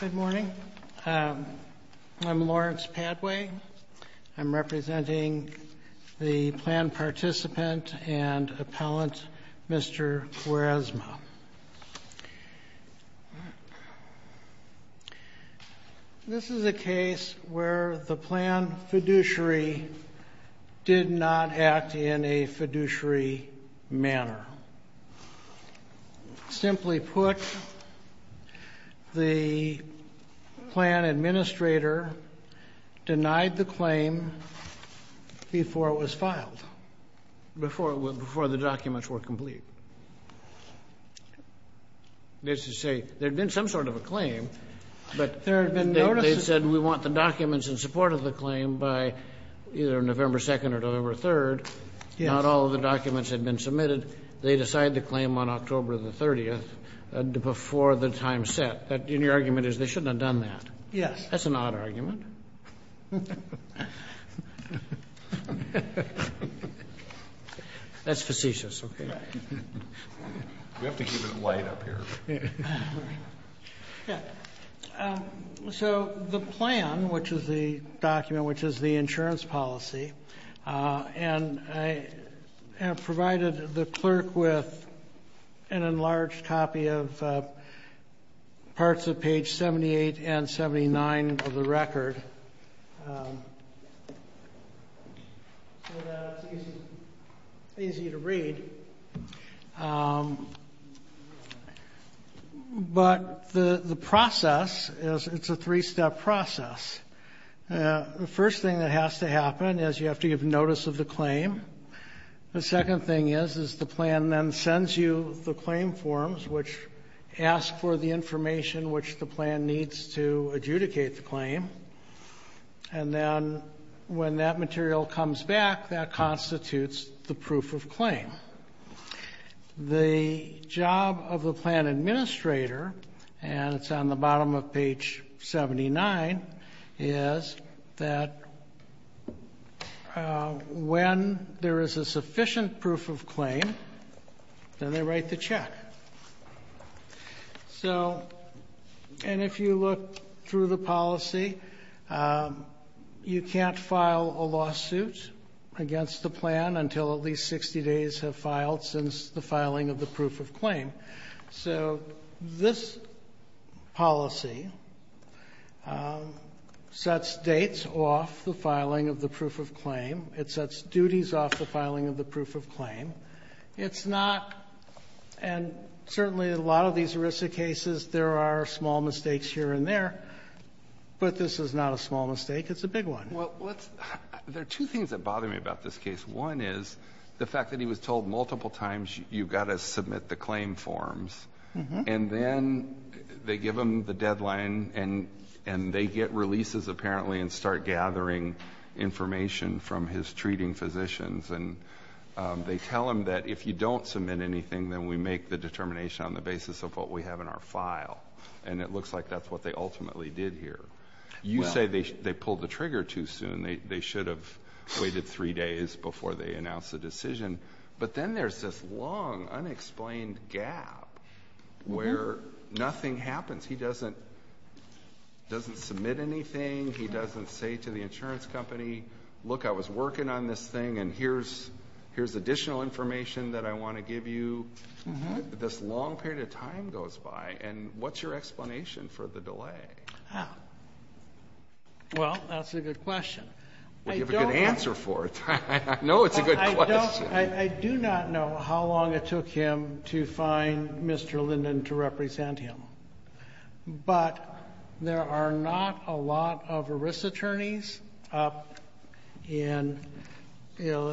Good morning. I'm Lawrence Padway. I'm representing the plan participant and appellant, Mr. Cuaresma. This is a case where the plan fiduciary did not act in a fiduciary manner. Simply put, the plan administrator denied the claim before it was filed, before the documents were complete. There had been some sort of a claim, but they said we want the documents in support of the claim by either November 2nd or November 3rd. Not all of the documents had been submitted. They decided to claim on October 30th before the time set. Your argument is they shouldn't have done that? Yes. That's an odd argument. That's facetious. We have to give it light up here. The plan, which is the document, which is the insurance policy, provided the clerk with an enlarged copy of parts of page 78 and 79 of the record. It's easy to read, but the process, it's a three-step process. The first thing that has to happen is you have to give notice of the claim. The second thing is the plan then sends you the claim forms, which ask for the information which the plan needs to adjudicate the claim. And then when that material comes back, that constitutes the proof of claim. The job of the plan administrator, and it's on the bottom of page 79, is that when there is a sufficient proof of claim, then they write the check. If you look through the policy, you can't file a lawsuit against the plan until at least 60 days have filed since the filing of the proof of claim. This policy sets dates off the filing of the proof of claim. It sets duties off the filing of the proof of claim. It's not, and certainly in a lot of these ERISA cases, there are small mistakes here and there. But this is not a small mistake. It's a big one. Well, there are two things that bother me about this case. One is the fact that he was told multiple times you've got to submit the claim forms. And then they give him the deadline and they get releases apparently and start gathering information from his treating physicians. And they tell him that if you don't submit anything, then we make the determination on the basis of what we have in our file. And it looks like that's what they ultimately did here. You say they pulled the trigger too soon. They should have waited three days before they announced the decision. But then there's this long, unexplained gap where nothing happens. He doesn't submit anything. He doesn't say to the insurance company, look, I was working on this thing and here's additional information that I want to give you. This long period of time goes by. And what's your explanation for the delay? Well, that's a good question. You have a good answer for it. I know it's a good question. I do not know how long it took him to find Mr. Linden to represent him. But there are not a lot of risk attorneys up in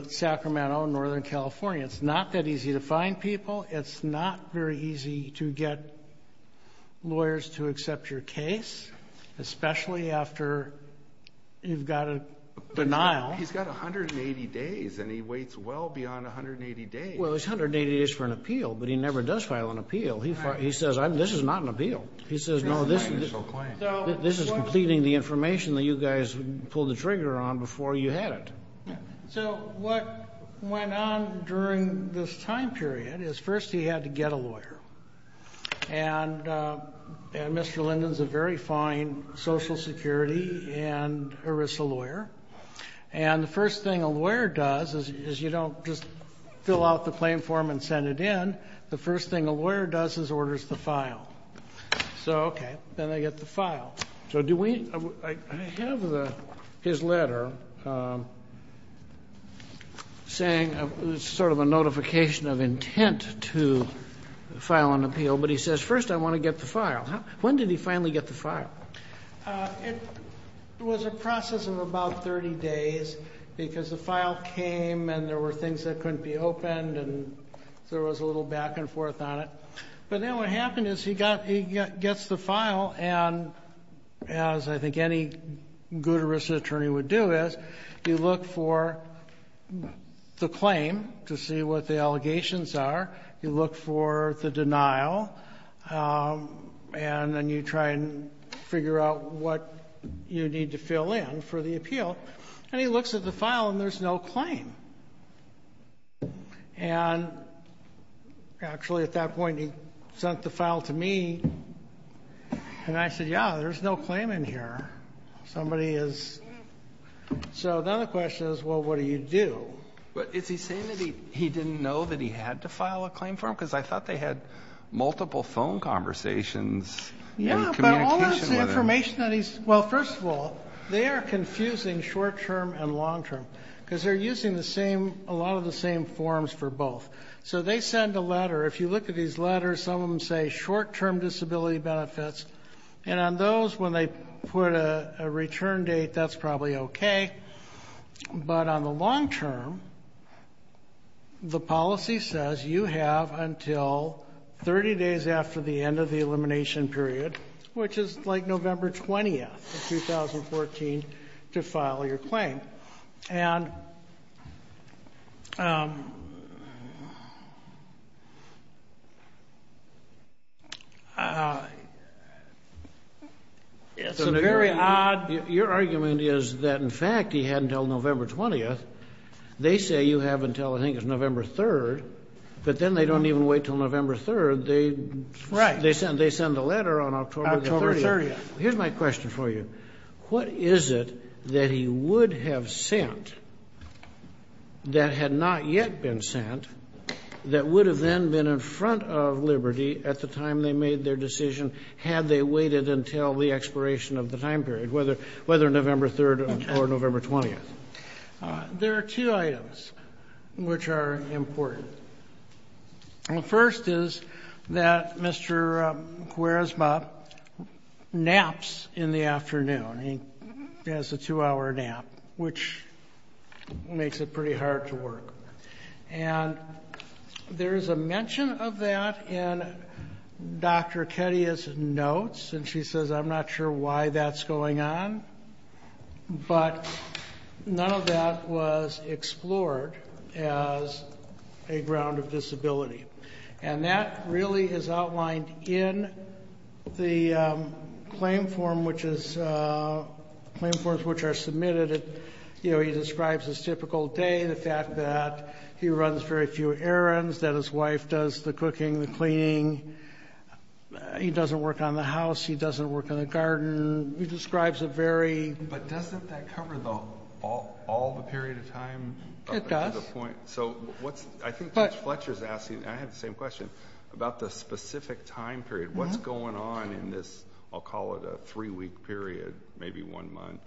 Sacramento, Northern California. It's not that easy to find people. It's not very easy to get lawyers to accept your case, especially after you've got a denial. He's got 180 days and he waits well beyond 180 days. Well, it's 180 days for an appeal, but he never does file an appeal. He says, this is not an appeal. He says, no, this is completing the information that you guys pulled the trigger on before you had it. So what went on during this time period is first he had to get a lawyer. And Mr. Linden's a very fine Social Security and ERISA lawyer. And the first thing a lawyer does is you don't just fill out the claim form and send it in. The first thing a lawyer does is orders the file. So, okay, then I get the file. So I have his letter saying sort of a notification of intent to file an appeal. But he says, first I want to get the file. When did he finally get the file? It was a process of about 30 days because the file came and there were things that couldn't be opened. And there was a little back and forth on it. But then what happened is he gets the file. And as I think any good ERISA attorney would do is you look for the claim to see what the allegations are. You look for the denial. And then you try and figure out what you need to fill in for the appeal. And he looks at the file and there's no claim. And actually at that point he sent the file to me. And I said, yeah, there's no claim in here. Somebody is. So then the question is, well, what do you do? But is he saying that he didn't know that he had to file a claim form? Because I thought they had multiple phone conversations. Yeah, but all of the information that he's. Well, first of all, they are confusing short-term and long-term. Because they're using a lot of the same forms for both. So they send a letter. If you look at these letters, some of them say short-term disability benefits. And on those, when they put a return date, that's probably okay. But on the long-term, the policy says you have until 30 days after the end of the elimination period, which is like November 20th of 2014, to file your claim. And it's a very odd. Your argument is that, in fact, he had until November 20th. They say you have until I think it's November 3rd. But then they don't even wait until November 3rd. They send a letter on October 30th. Here's my question for you. What is it that he would have sent that had not yet been sent, that would have then been in front of Liberty at the time they made their decision, had they waited until the expiration of the time period, whether November 3rd or November 20th? There are two items which are important. The first is that Mr. Kweresma naps in the afternoon. He has a two-hour nap, which makes it pretty hard to work. And there is a mention of that in Dr. Ketya's notes. And she says, I'm not sure why that's going on. But none of that was explored as a ground of disability. And that really is outlined in the claim forms which are submitted. You know, he describes his typical day, the fact that he runs very few errands, that his wife does the cooking, the cleaning. He doesn't work on the house. He doesn't work on the garden. But doesn't that cover all the period of time? It does. So I think Judge Fletcher is asking, and I have the same question, about the specific time period. What's going on in this, I'll call it a three-week period, maybe one month,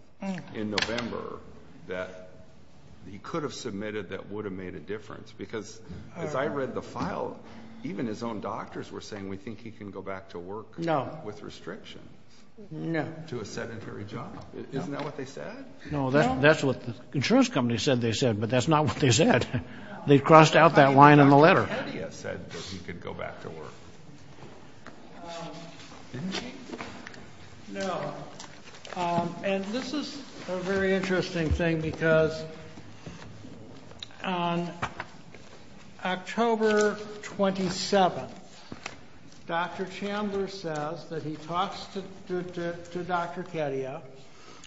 in November, that he could have submitted that would have made a difference? Because as I read the file, even his own doctors were saying, we think he can go back to work with restrictions. No. To a sedentary job. Isn't that what they said? No, that's what the insurance company said they said, but that's not what they said. They crossed out that line in the letter. Dr. Ketya said that he could go back to work, didn't he? No. And this is a very interesting thing because on October 27th, Dr. Chambers says that he talks to Dr. Ketya,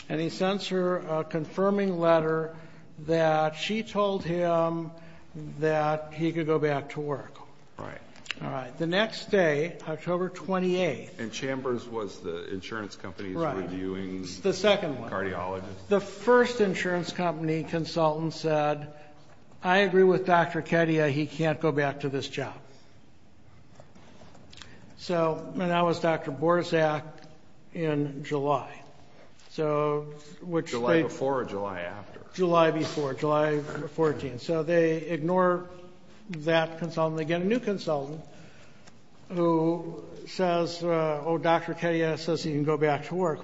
and he sends her a confirming letter that she told him that he could go back to work. Right. The next day, October 28th. And Chambers was the insurance company's reviewing cardiologist? The second one. The first insurance company consultant said, I agree with Dr. Ketya, he can't go back to this job. And that was Dr. Borzak in July. July before or July after? July before, July 14th. So they ignore that consultant. And they get a new consultant who says, oh, Dr. Ketya says he can go back to work.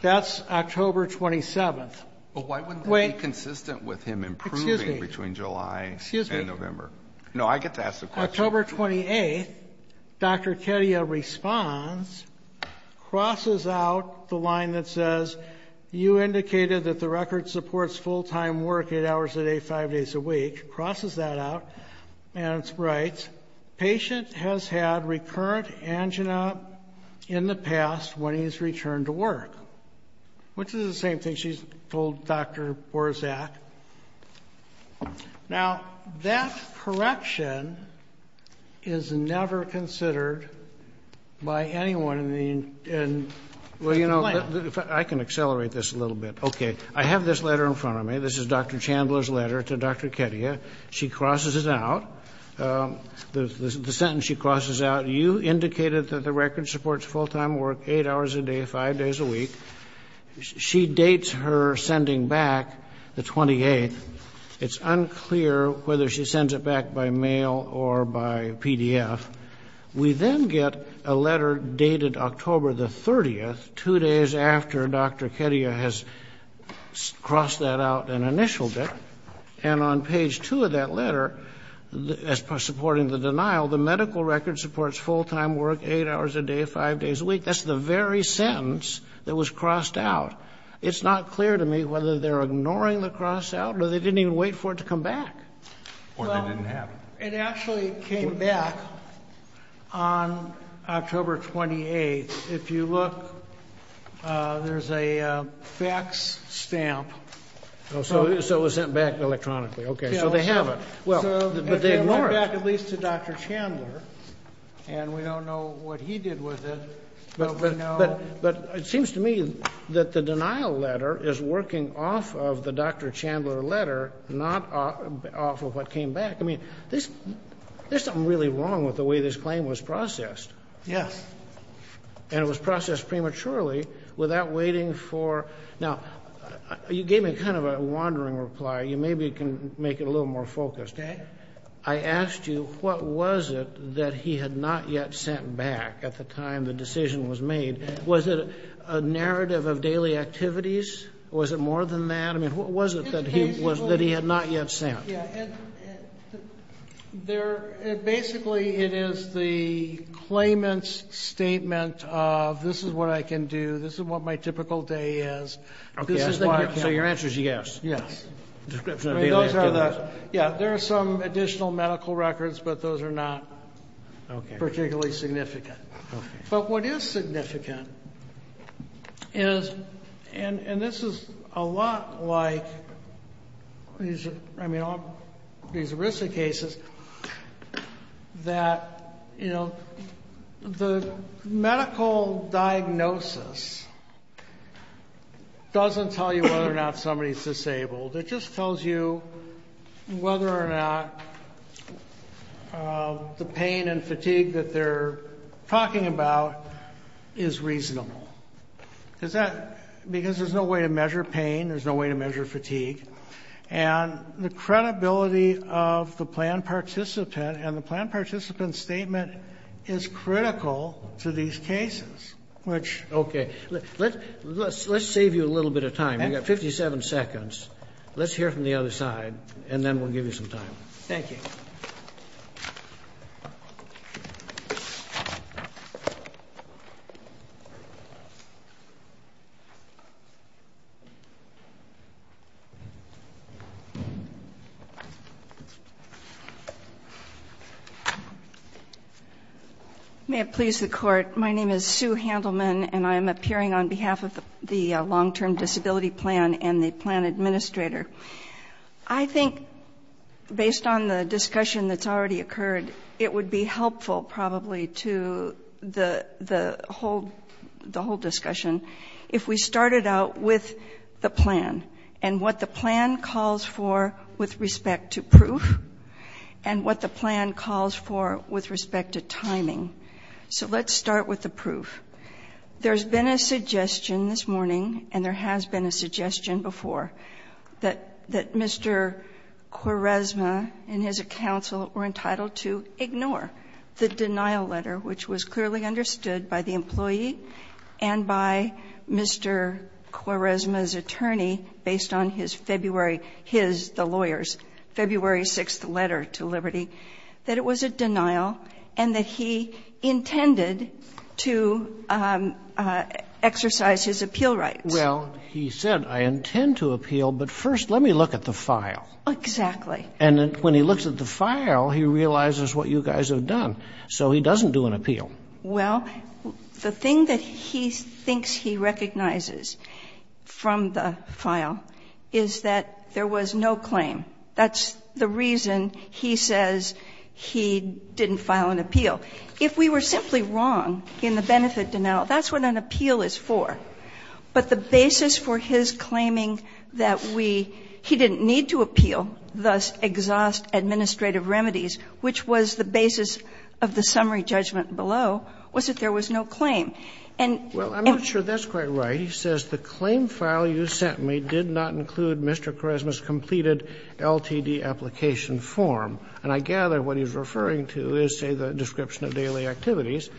That's October 27th. But why wouldn't that be consistent with him improving between July and November? Excuse me. No, I get to ask the question. October 28th, Dr. Ketya responds, crosses out the line that says, you indicated that the record supports full-time work 8 hours a day, 5 days a week. Crosses that out and writes, patient has had recurrent angina in the past when he's returned to work. Which is the same thing she's told Dr. Borzak. Now, that correction is never considered by anyone in the complaint. Well, you know, I can accelerate this a little bit. Okay. I have this letter in front of me. This is Dr. Chandler's letter to Dr. Ketya. She crosses it out. The sentence she crosses out, you indicated that the record supports full-time work 8 hours a day, 5 days a week. She dates her sending back the 28th. It's unclear whether she sends it back by mail or by PDF. We then get a letter dated October the 30th, 2 days after Dr. Ketya has crossed that out and initialed it. And on page 2 of that letter, as far as supporting the denial, the medical record supports full-time work 8 hours a day, 5 days a week. That's the very sentence that was crossed out. It's not clear to me whether they're ignoring the cross out or they didn't even wait for it to come back. Or they didn't have it. It actually came back on October 28th. If you look, there's a fax stamp. So it was sent back electronically. Okay. So they have it. But they ignore it. It went back at least to Dr. Chandler. And we don't know what he did with it. But it seems to me that the denial letter is working off of the Dr. Chandler letter, not off of what came back. I mean, there's something really wrong with the way this claim was processed. Yes. And it was processed prematurely without waiting for. Now, you gave me kind of a wandering reply. You maybe can make it a little more focused. Okay. I asked you what was it that he had not yet sent back at the time the decision was made. Was it a narrative of daily activities? Or was it more than that? I mean, what was it that he had not yet sent? Basically, it is the claimant's statement of this is what I can do. This is what my typical day is. So your answer is yes. Yes. Yeah, there are some additional medical records, but those are not particularly significant. But what is significant is, and this is a lot like these ERISA cases, that the medical diagnosis doesn't tell you whether or not somebody is disabled. It just tells you whether or not the pain and fatigue that they're talking about is reasonable. Because there's no way to measure pain. There's no way to measure fatigue. And the credibility of the planned participant and the planned participant's statement is critical to these cases, which... Okay. Let's save you a little bit of time. We've got 57 seconds. Let's hear from the other side, and then we'll give you some time. Thank you. May it please the Court, my name is Sue Handelman, and I am appearing on behalf of the Long-Term Disability Plan and the plan administrator. I think, based on the discussion that's already occurred, it would be helpful probably to the whole discussion if we started out with the plan and what the plan calls for with respect to proof and what the plan calls for with respect to timing. So let's start with the proof. There's been a suggestion this morning, and there has been a suggestion before, that Mr. Quaresma and his counsel were entitled to ignore the denial letter, which was clearly understood by the employee and by Mr. Quaresma's attorney, based on his February his, the lawyer's, February 6th letter to Liberty, that it was a denial and that he intended to exercise his appeal rights. Well, he said, I intend to appeal, but first let me look at the file. Exactly. And when he looks at the file, he realizes what you guys have done. So he doesn't do an appeal. Well, the thing that he thinks he recognizes from the file is that there was no claim. That's the reason he says he didn't file an appeal. If we were simply wrong in the benefit denial, that's what an appeal is for. But the basis for his claiming that we, he didn't need to appeal, thus exhaust administrative remedies, which was the basis of the summary judgment below, was that there was no claim. And he says the claim file you sent me did not include Mr. Quaresma's completed LTD application form. And I gather what he's referring to is, say, the description of daily activities.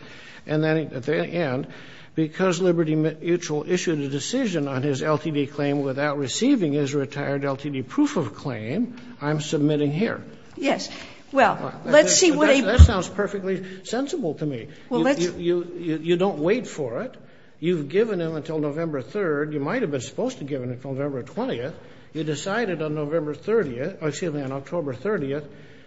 And then, at the end, because Liberty Mutual issued a decision on his LTD claim without receiving his retired LTD proof of claim, I'm submitting here. Yes. Well, let's see what a ---- That sounds perfectly sensible to me. Well, let's ---- You don't wait for it. You've given him until November 3rd. You might have been supposed to have given him until November 20th. You decided on November 30th, excuse me, on October 30th.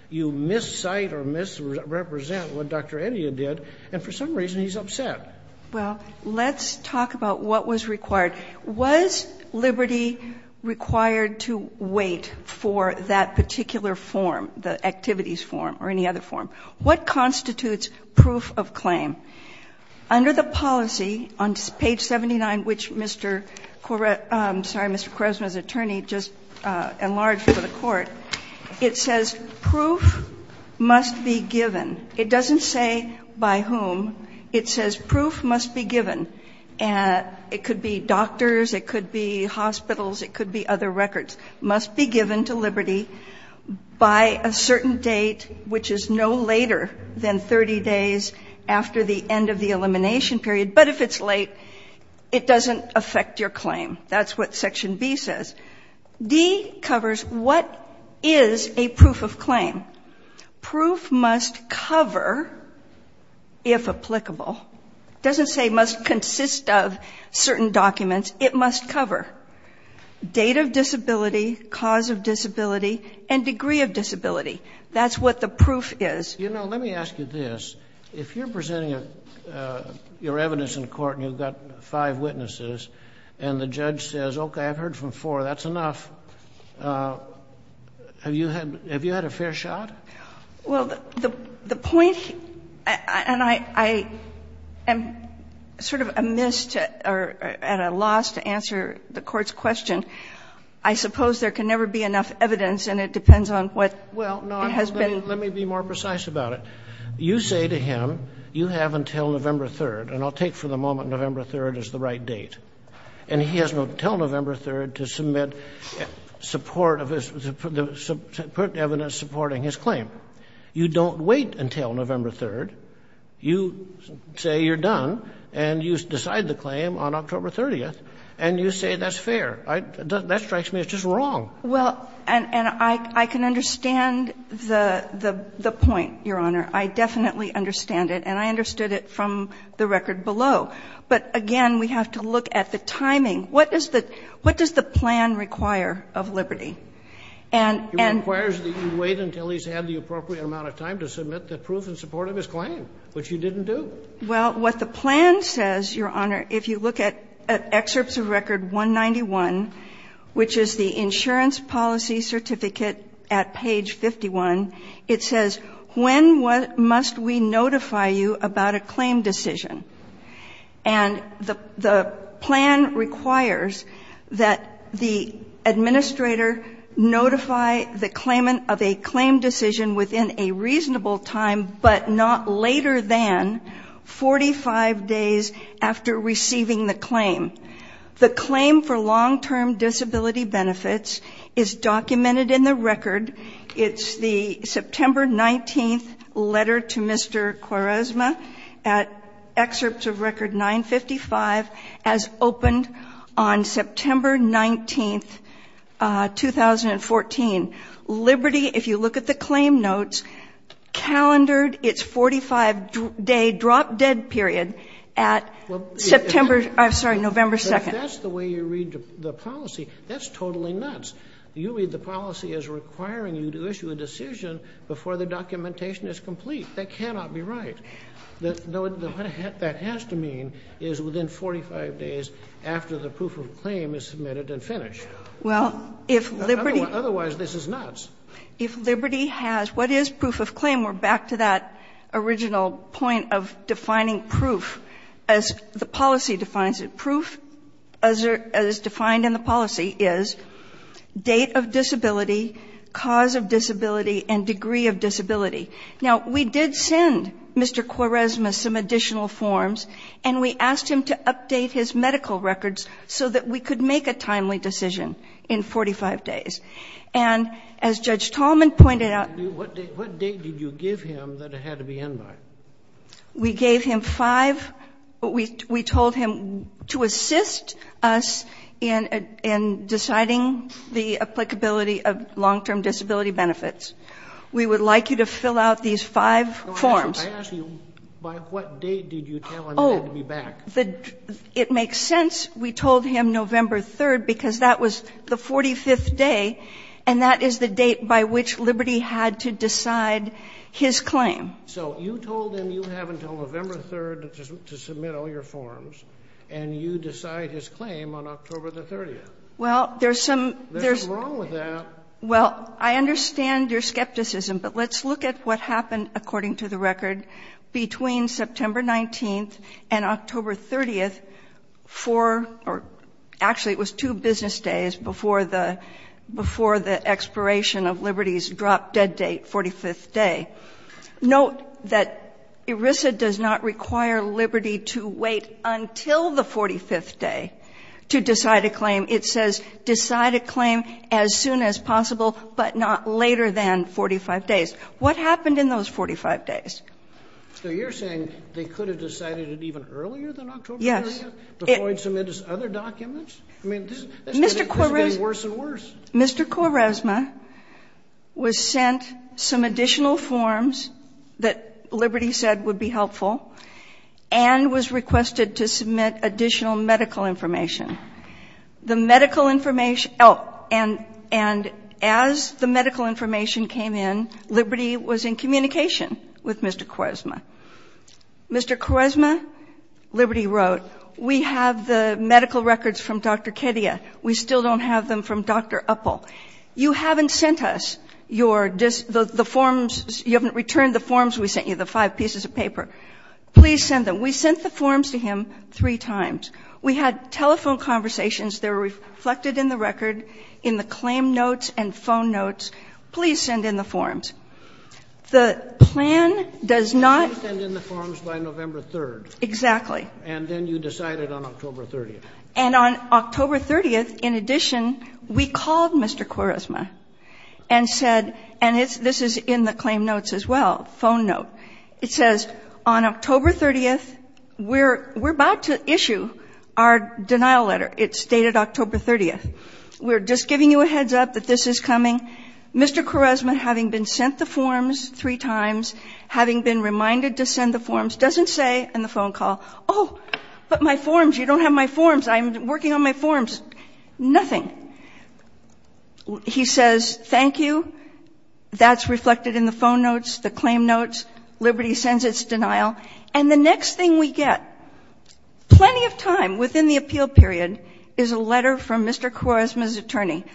You miscite or misrepresent what Dr. Edia did, and for some reason he's upset. Well, let's talk about what was required. Was Liberty required to wait for that particular form, the activities form or any other form? What constitutes proof of claim? Under the policy on page 79, which Mr. Correia ---- I'm sorry, Mr. Quaresma's attorney just enlarged for the Court, it says proof must be given. It doesn't say by whom. It says proof must be given. It could be doctors, it could be hospitals, it could be other records. It must be given to Liberty by a certain date, which is no later than 30 days after the end of the elimination period, but if it's late, it doesn't affect your claim. That's what section B says. D covers what is a proof of claim. Proof must cover, if applicable. It doesn't say must consist of certain documents. It must cover date of disability, cause of disability, and degree of disability. That's what the proof is. You know, let me ask you this. If you're presenting your evidence in court and you've got five witnesses and the judge says, okay, I've heard from four, that's enough, have you had a fair shot? Well, the point, and I am sort of amiss or at a loss to answer the Court's question, I suppose there can never be enough evidence and it depends on what it has been. Well, no, let me be more precise about it. You say to him, you have until November 3rd, and I'll take for the moment November 3rd is the right date, and he has until November 3rd to submit support of his evidence supporting his claim. You don't wait until November 3rd. You say you're done and you decide the claim on October 30th and you say that's fair. That strikes me as just wrong. Well, and I can understand the point, Your Honor. I definitely understand it, and I understood it from the record below. But, again, we have to look at the timing. What does the plan require of Liberty? And you wait until he's had the appropriate amount of time to submit the proof in support of his claim, which you didn't do. Well, what the plan says, Your Honor, if you look at excerpts of record 191, which is the insurance policy certificate at page 51, it says, when must we notify you about a claim decision? And the plan requires that the administrator notify the claimant of a claim decision within a reasonable time, but not later than 45 days after receiving the claim. The claim for long-term disability benefits is documented in the record. It's the September 19th letter to Mr. Quaresma at excerpts of record 955 as opened on September 19th, 2014. Liberty, if you look at the claim notes, calendared its 45-day drop-dead period at September, I'm sorry, November 2nd. That's the way you read the policy. That's totally nuts. You read the policy as requiring you to issue a decision before the documentation is complete. That cannot be right. What that has to mean is within 45 days after the proof of claim is submitted and finished. Well, if Liberty. Otherwise, this is nuts. If Liberty has what is proof of claim, we're back to that original point of defining proof as the policy defines it. Proof as defined in the policy is date of disability, cause of disability, and degree of disability. Now, we did send Mr. Quaresma some additional forms, and we asked him to update his medical records so that we could make a timely decision in 45 days. And as Judge Tallman pointed out. Kennedy, what date did you give him that it had to be in by? We gave him five. We told him to assist us in deciding the applicability of long-term disability benefits. We would like you to fill out these five forms. I ask you, by what date did you tell him it had to be back? Oh, it makes sense. We told him November 3rd because that was the 45th day, and that is the date by which Liberty had to decide his claim. So you told him you have until November 3rd to submit all your forms, and you decide his claim on October 30th. Well, there's some. What's wrong with that? Well, I understand your skepticism, but let's look at what happened, according to the record, between September 19th and October 30th for or actually it was two business days before the expiration of Liberty's drop-dead date, 45th day. Note that ERISA does not require Liberty to wait until the 45th day to decide a claim. It says decide a claim as soon as possible, but not later than 45 days. What happened in those 45 days? So you're saying they could have decided it even earlier than October 30th? Yes. Before he submitted his other documents? I mean, this is getting worse and worse. Mr. Quaresma was sent some additional forms that Liberty said would be helpful and was requested to submit additional medical information. The medical information – oh, and as the medical information came in, Liberty was in communication with Mr. Quaresma. Mr. Quaresma, Liberty wrote, we have the medical records from Dr. Kedia. We still don't have them from Dr. Uppel. You haven't sent us your – the forms – you haven't returned the forms we sent you, the five pieces of paper. Please send them. We sent the forms to him three times. We had telephone conversations. They were reflected in the record, in the claim notes and phone notes. Please send in the forms. The plan does not – You said send in the forms by November 3rd. Exactly. And then you decided on October 30th. And on October 30th, in addition, we called Mr. Quaresma and said – and this is in the claim notes as well, phone note. It says, on October 30th, we're about to issue our denial letter. It's dated October 30th. We're just giving you a heads-up that this is coming. Mr. Quaresma, having been sent the forms three times, having been reminded to send the forms, doesn't say in the phone call, oh, but my forms, you don't have my forms. I'm working on my forms. Nothing. He says, thank you. That's reflected in the phone notes, the claim notes. Liberty sends its denial. And the next thing we get, plenty of time within the appeal period, is a letter from Mr. Quaresma's attorney.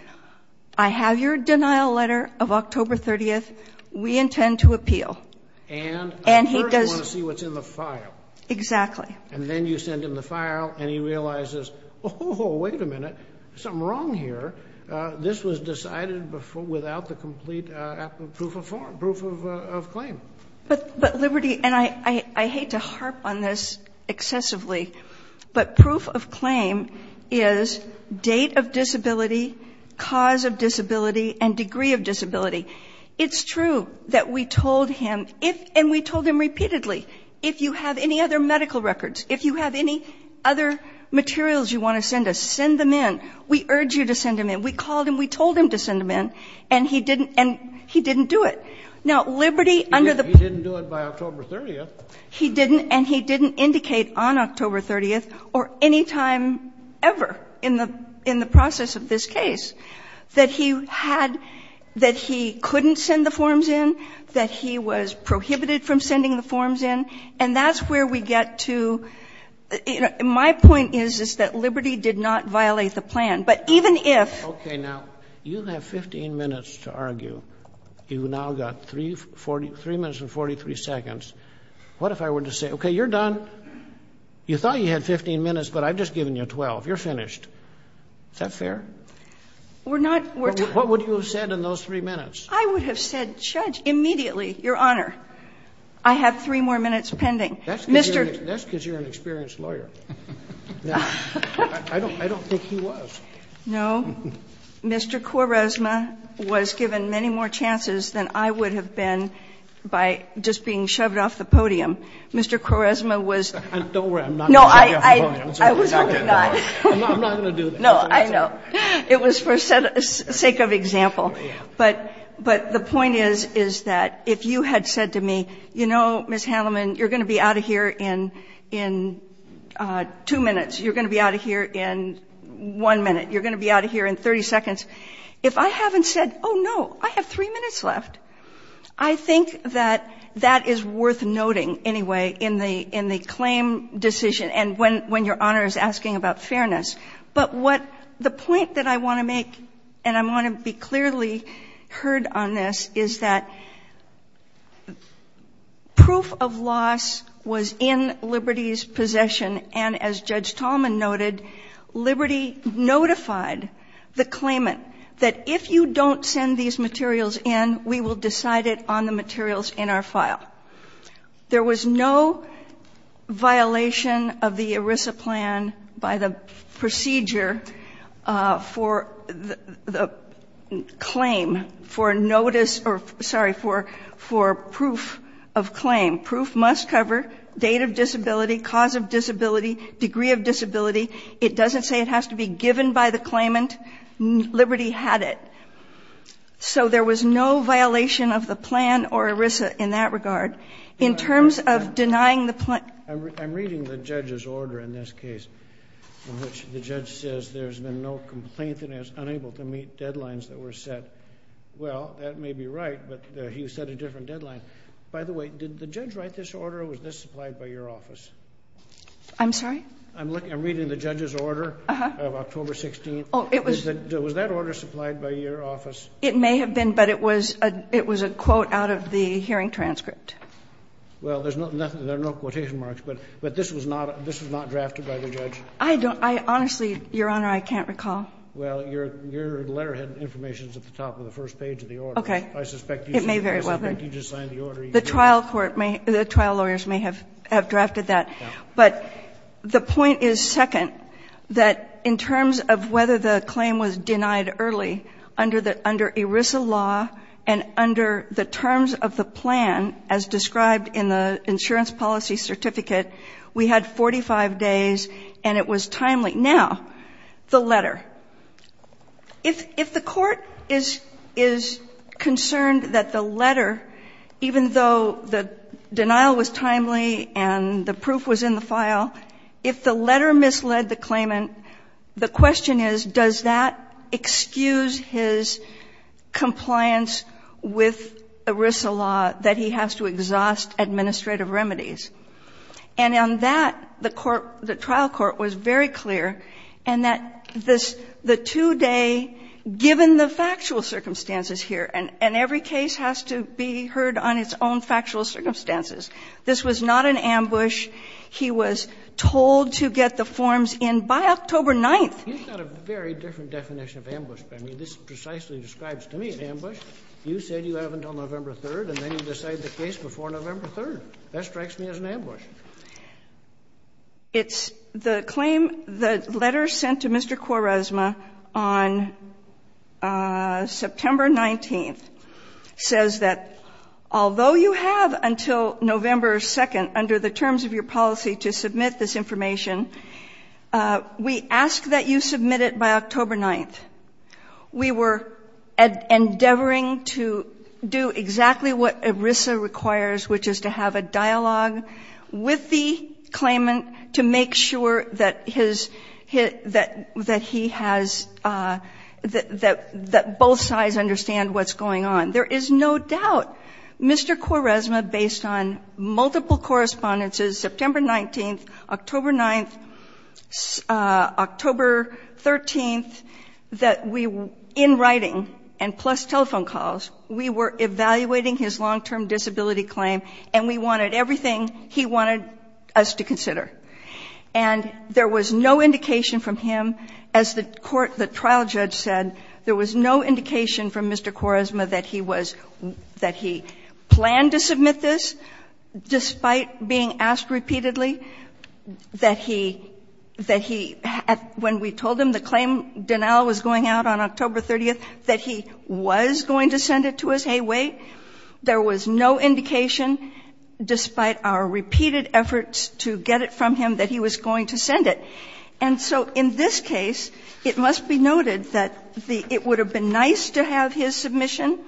I have your denial letter of October 30th. We intend to appeal. And a person wants to see what's in the file. Exactly. And then you send him the file, and he realizes, oh, wait a minute. There's something wrong here. This was decided without the complete proof of claim. But, Liberty, and I hate to harp on this excessively, but proof of claim is date of disability, cause of disability, and degree of disability. It's true that we told him, if, and we told him repeatedly, if you have any other medical records, if you have any other materials you want to send us, send them in. We urge you to send them in. We called him. We told him to send them in. And he didn't, and he didn't do it. Now, Liberty, under the. He didn't do it by October 30th. He didn't, and he didn't indicate on October 30th or any time ever in the process of this case that he had, that he couldn't send the forms in, that he was prohibited from sending the forms in. And that's where we get to. My point is, is that Liberty did not violate the plan. But even if. Okay, now, you have 15 minutes to argue. You've now got 3 minutes and 43 seconds. What if I were to say, okay, you're done. You thought you had 15 minutes, but I've just given you 12. You're finished. Is that fair? We're not. What would you have said in those 3 minutes? I would have said, Judge, immediately, Your Honor, I have 3 more minutes pending. That's because you're an experienced lawyer. I don't think he was. No. Mr. Quaresma was given many more chances than I would have been by just being shoved off the podium. Mr. Quaresma was. Don't worry. I'm not. I was hoping not. I'm not going to do that. No, I know. It was for sake of example. But the point is, is that if you had said to me, you know, Ms. Handelman, you're going to be out of here in 2 minutes. You're going to be out of here in 1 minute. You're going to be out of here in 30 seconds. If I haven't said, oh, no, I have 3 minutes left, I think that that is worth noting anyway in the claim decision. And when Your Honor is asking about fairness. But what the point that I want to make, and I want to be clearly heard on this, is that proof of loss was in Liberty's possession. And as Judge Tallman noted, Liberty notified the claimant that if you don't send these materials in, we will decide it on the materials in our file. There was no violation of the ERISA plan by the procedure for the claim, for notice or, sorry, for proof of claim. Proof must cover date of disability, cause of disability, degree of disability. It doesn't say it has to be given by the claimant. Liberty had it. So there was no violation of the plan or ERISA in that regard. In terms of denying the plan. I'm reading the judge's order in this case, in which the judge says there's been no complaint and is unable to meet deadlines that were set. Well, that may be right, but he set a different deadline. By the way, did the judge write this order or was this supplied by your office? I'm sorry? I'm reading the judge's order of October 16th. Oh, it was. Was that order supplied by your office? It may have been, but it was a quote out of the hearing transcript. Well, there's no quotation marks, but this was not drafted by the judge? I don't know. Honestly, Your Honor, I can't recall. Well, your letter had information at the top of the first page of the order. Okay. I suspect you just signed the order. The trial lawyers may have drafted that. But the point is, second, that in terms of whether the claim was denied early, under ERISA law and under the terms of the plan as described in the insurance policy certificate, we had 45 days and it was timely. Now, the letter. If the court is concerned that the letter, even though the denial was timely and the proof was in the file, if the letter misled the claimant, the question is, does that excuse his compliance with ERISA law that he has to exhaust administrative remedies? And on that, the court, the trial court was very clear in that this, the 2-day, given the factual circumstances here, and every case has to be heard on its own factual circumstances. This was not an ambush. He was told to get the forms in by October 9th. He's got a very different definition of ambush. I mean, this precisely describes to me an ambush. You said you have until November 3rd, and then you decide the case before November 3rd. That strikes me as an ambush. It's the claim. The letter sent to Mr. Quaresma on September 19th says that although you have until November 2nd under the terms of your policy to submit this information, we ask that you submit it by October 9th. We were endeavoring to do exactly what ERISA requires, which is to have a dialogue with the claimant to make sure that his, that he has, that both sides understand what's going on. There is no doubt, Mr. Quaresma, based on multiple correspondences, September 19th, October 9th, October 13th, that we, in writing, and plus telephone calls, we were evaluating his long-term disability claim, and we wanted everything he wanted us to consider. And there was no indication from him, as the court, the trial judge said, there was no indication from Mr. Quaresma that he was, that he planned to submit this despite being asked repeatedly, that he, that he, when we told him the claim denial was going out on October 30th, that he was going to send it to us, hey, wait, there was no indication despite our repeated efforts to get it from him that he was going to send it. And so in this case, it must be noted that the, it would have been nice to have his submission,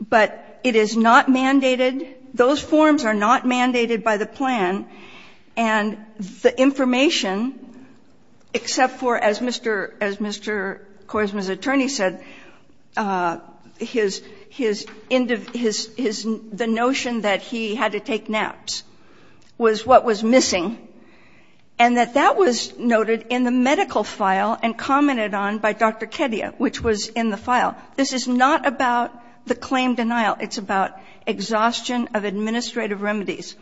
but it is not mandated. Those forms are not mandated by the plan, and the information, except for, as Mr. Quaresma's attorney said, his, his, the notion that he had to take naps was what was missing, and that that was noted in the medical file and commented on by Dr. Kedia, which was in the file. This is not about the claim denial. It's about exhaustion of administrative remedies.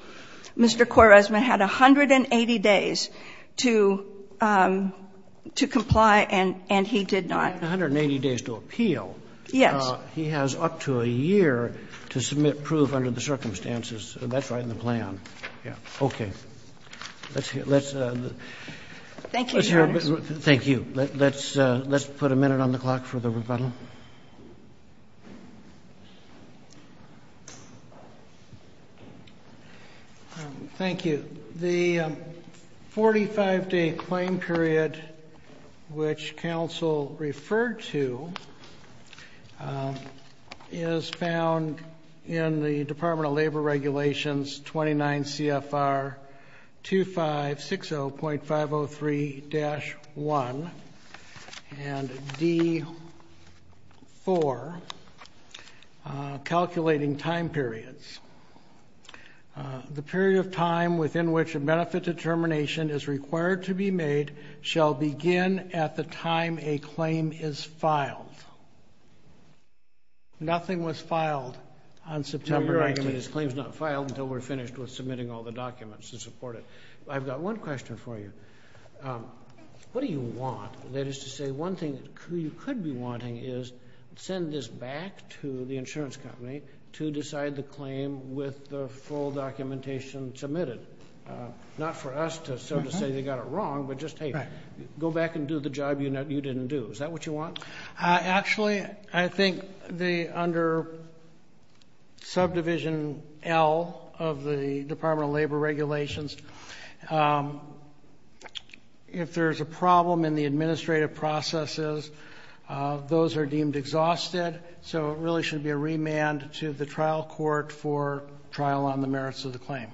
Mr. Quaresma had 180 days to, to comply, and, and he did not. Roberts. 180 days to appeal. Yes. He has up to a year to submit proof under the circumstances. That's right in the plan. Yes. Okay. Let's, let's. Thank you, Your Honors. Thank you. Let's, let's put a minute on the clock for the rebuttal. Mr. Quaresma. Thank you. The 45 day claim period, which counsel referred to, is found in the Department of Labor for calculating time periods. The period of time within which a benefit determination is required to be made shall begin at the time a claim is filed. Nothing was filed on September 19th. Your argument is claims not filed until we're finished with submitting all the documents to support it. I've got one question for you. What do you want? That is to say, one thing you could be wanting is send this back to the insurance company to decide the claim with the full documentation submitted. Not for us to sort of say they got it wrong, but just, hey, go back and do the job you didn't do. Is that what you want? Actually, I think the under subdivision L of the Department of Labor regulations, if there's a problem in the administrative processes, those are deemed exhausted. So it really should be a remand to the trial court for trial on the merits of the claim.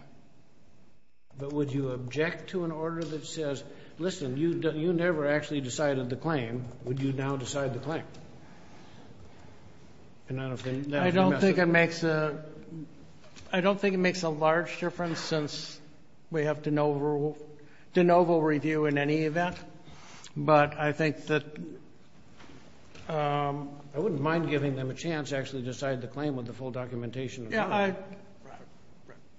But would you object to an order that says, listen, you never actually decided the claim. Would you now decide the claim? I don't think it makes a large difference since we have de novo review in any event. But I think that I wouldn't mind giving them a chance to actually decide the claim with the full documentation. Yeah,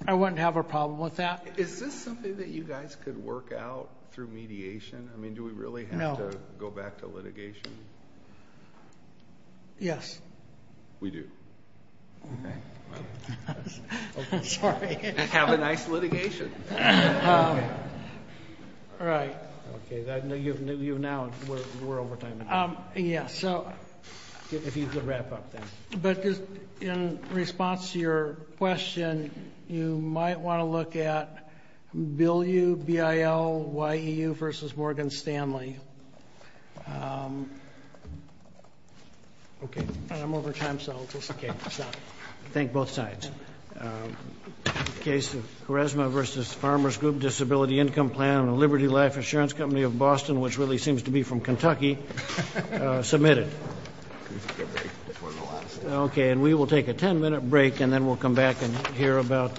I wouldn't have a problem with that. Is this something that you guys could work out through mediation? I mean, do we really have to go back to litigation? Yes. We do. Okay. Sorry. Have a nice litigation. All right. Okay. Now we're over time. Yeah, so. If you could wrap up then. But in response to your question, you might want to look at bill U, BIL, YEU versus Morgan Stanley. Okay. I'm over time, so it's okay. Thank both sides. Case of Charisma versus Farmer's Group Disability Income Plan on the Liberty Life Insurance Company of Boston, which really seems to be from Kentucky, submitted. Okay. And we will take a ten-minute break, and then we'll come back and hear about Macau.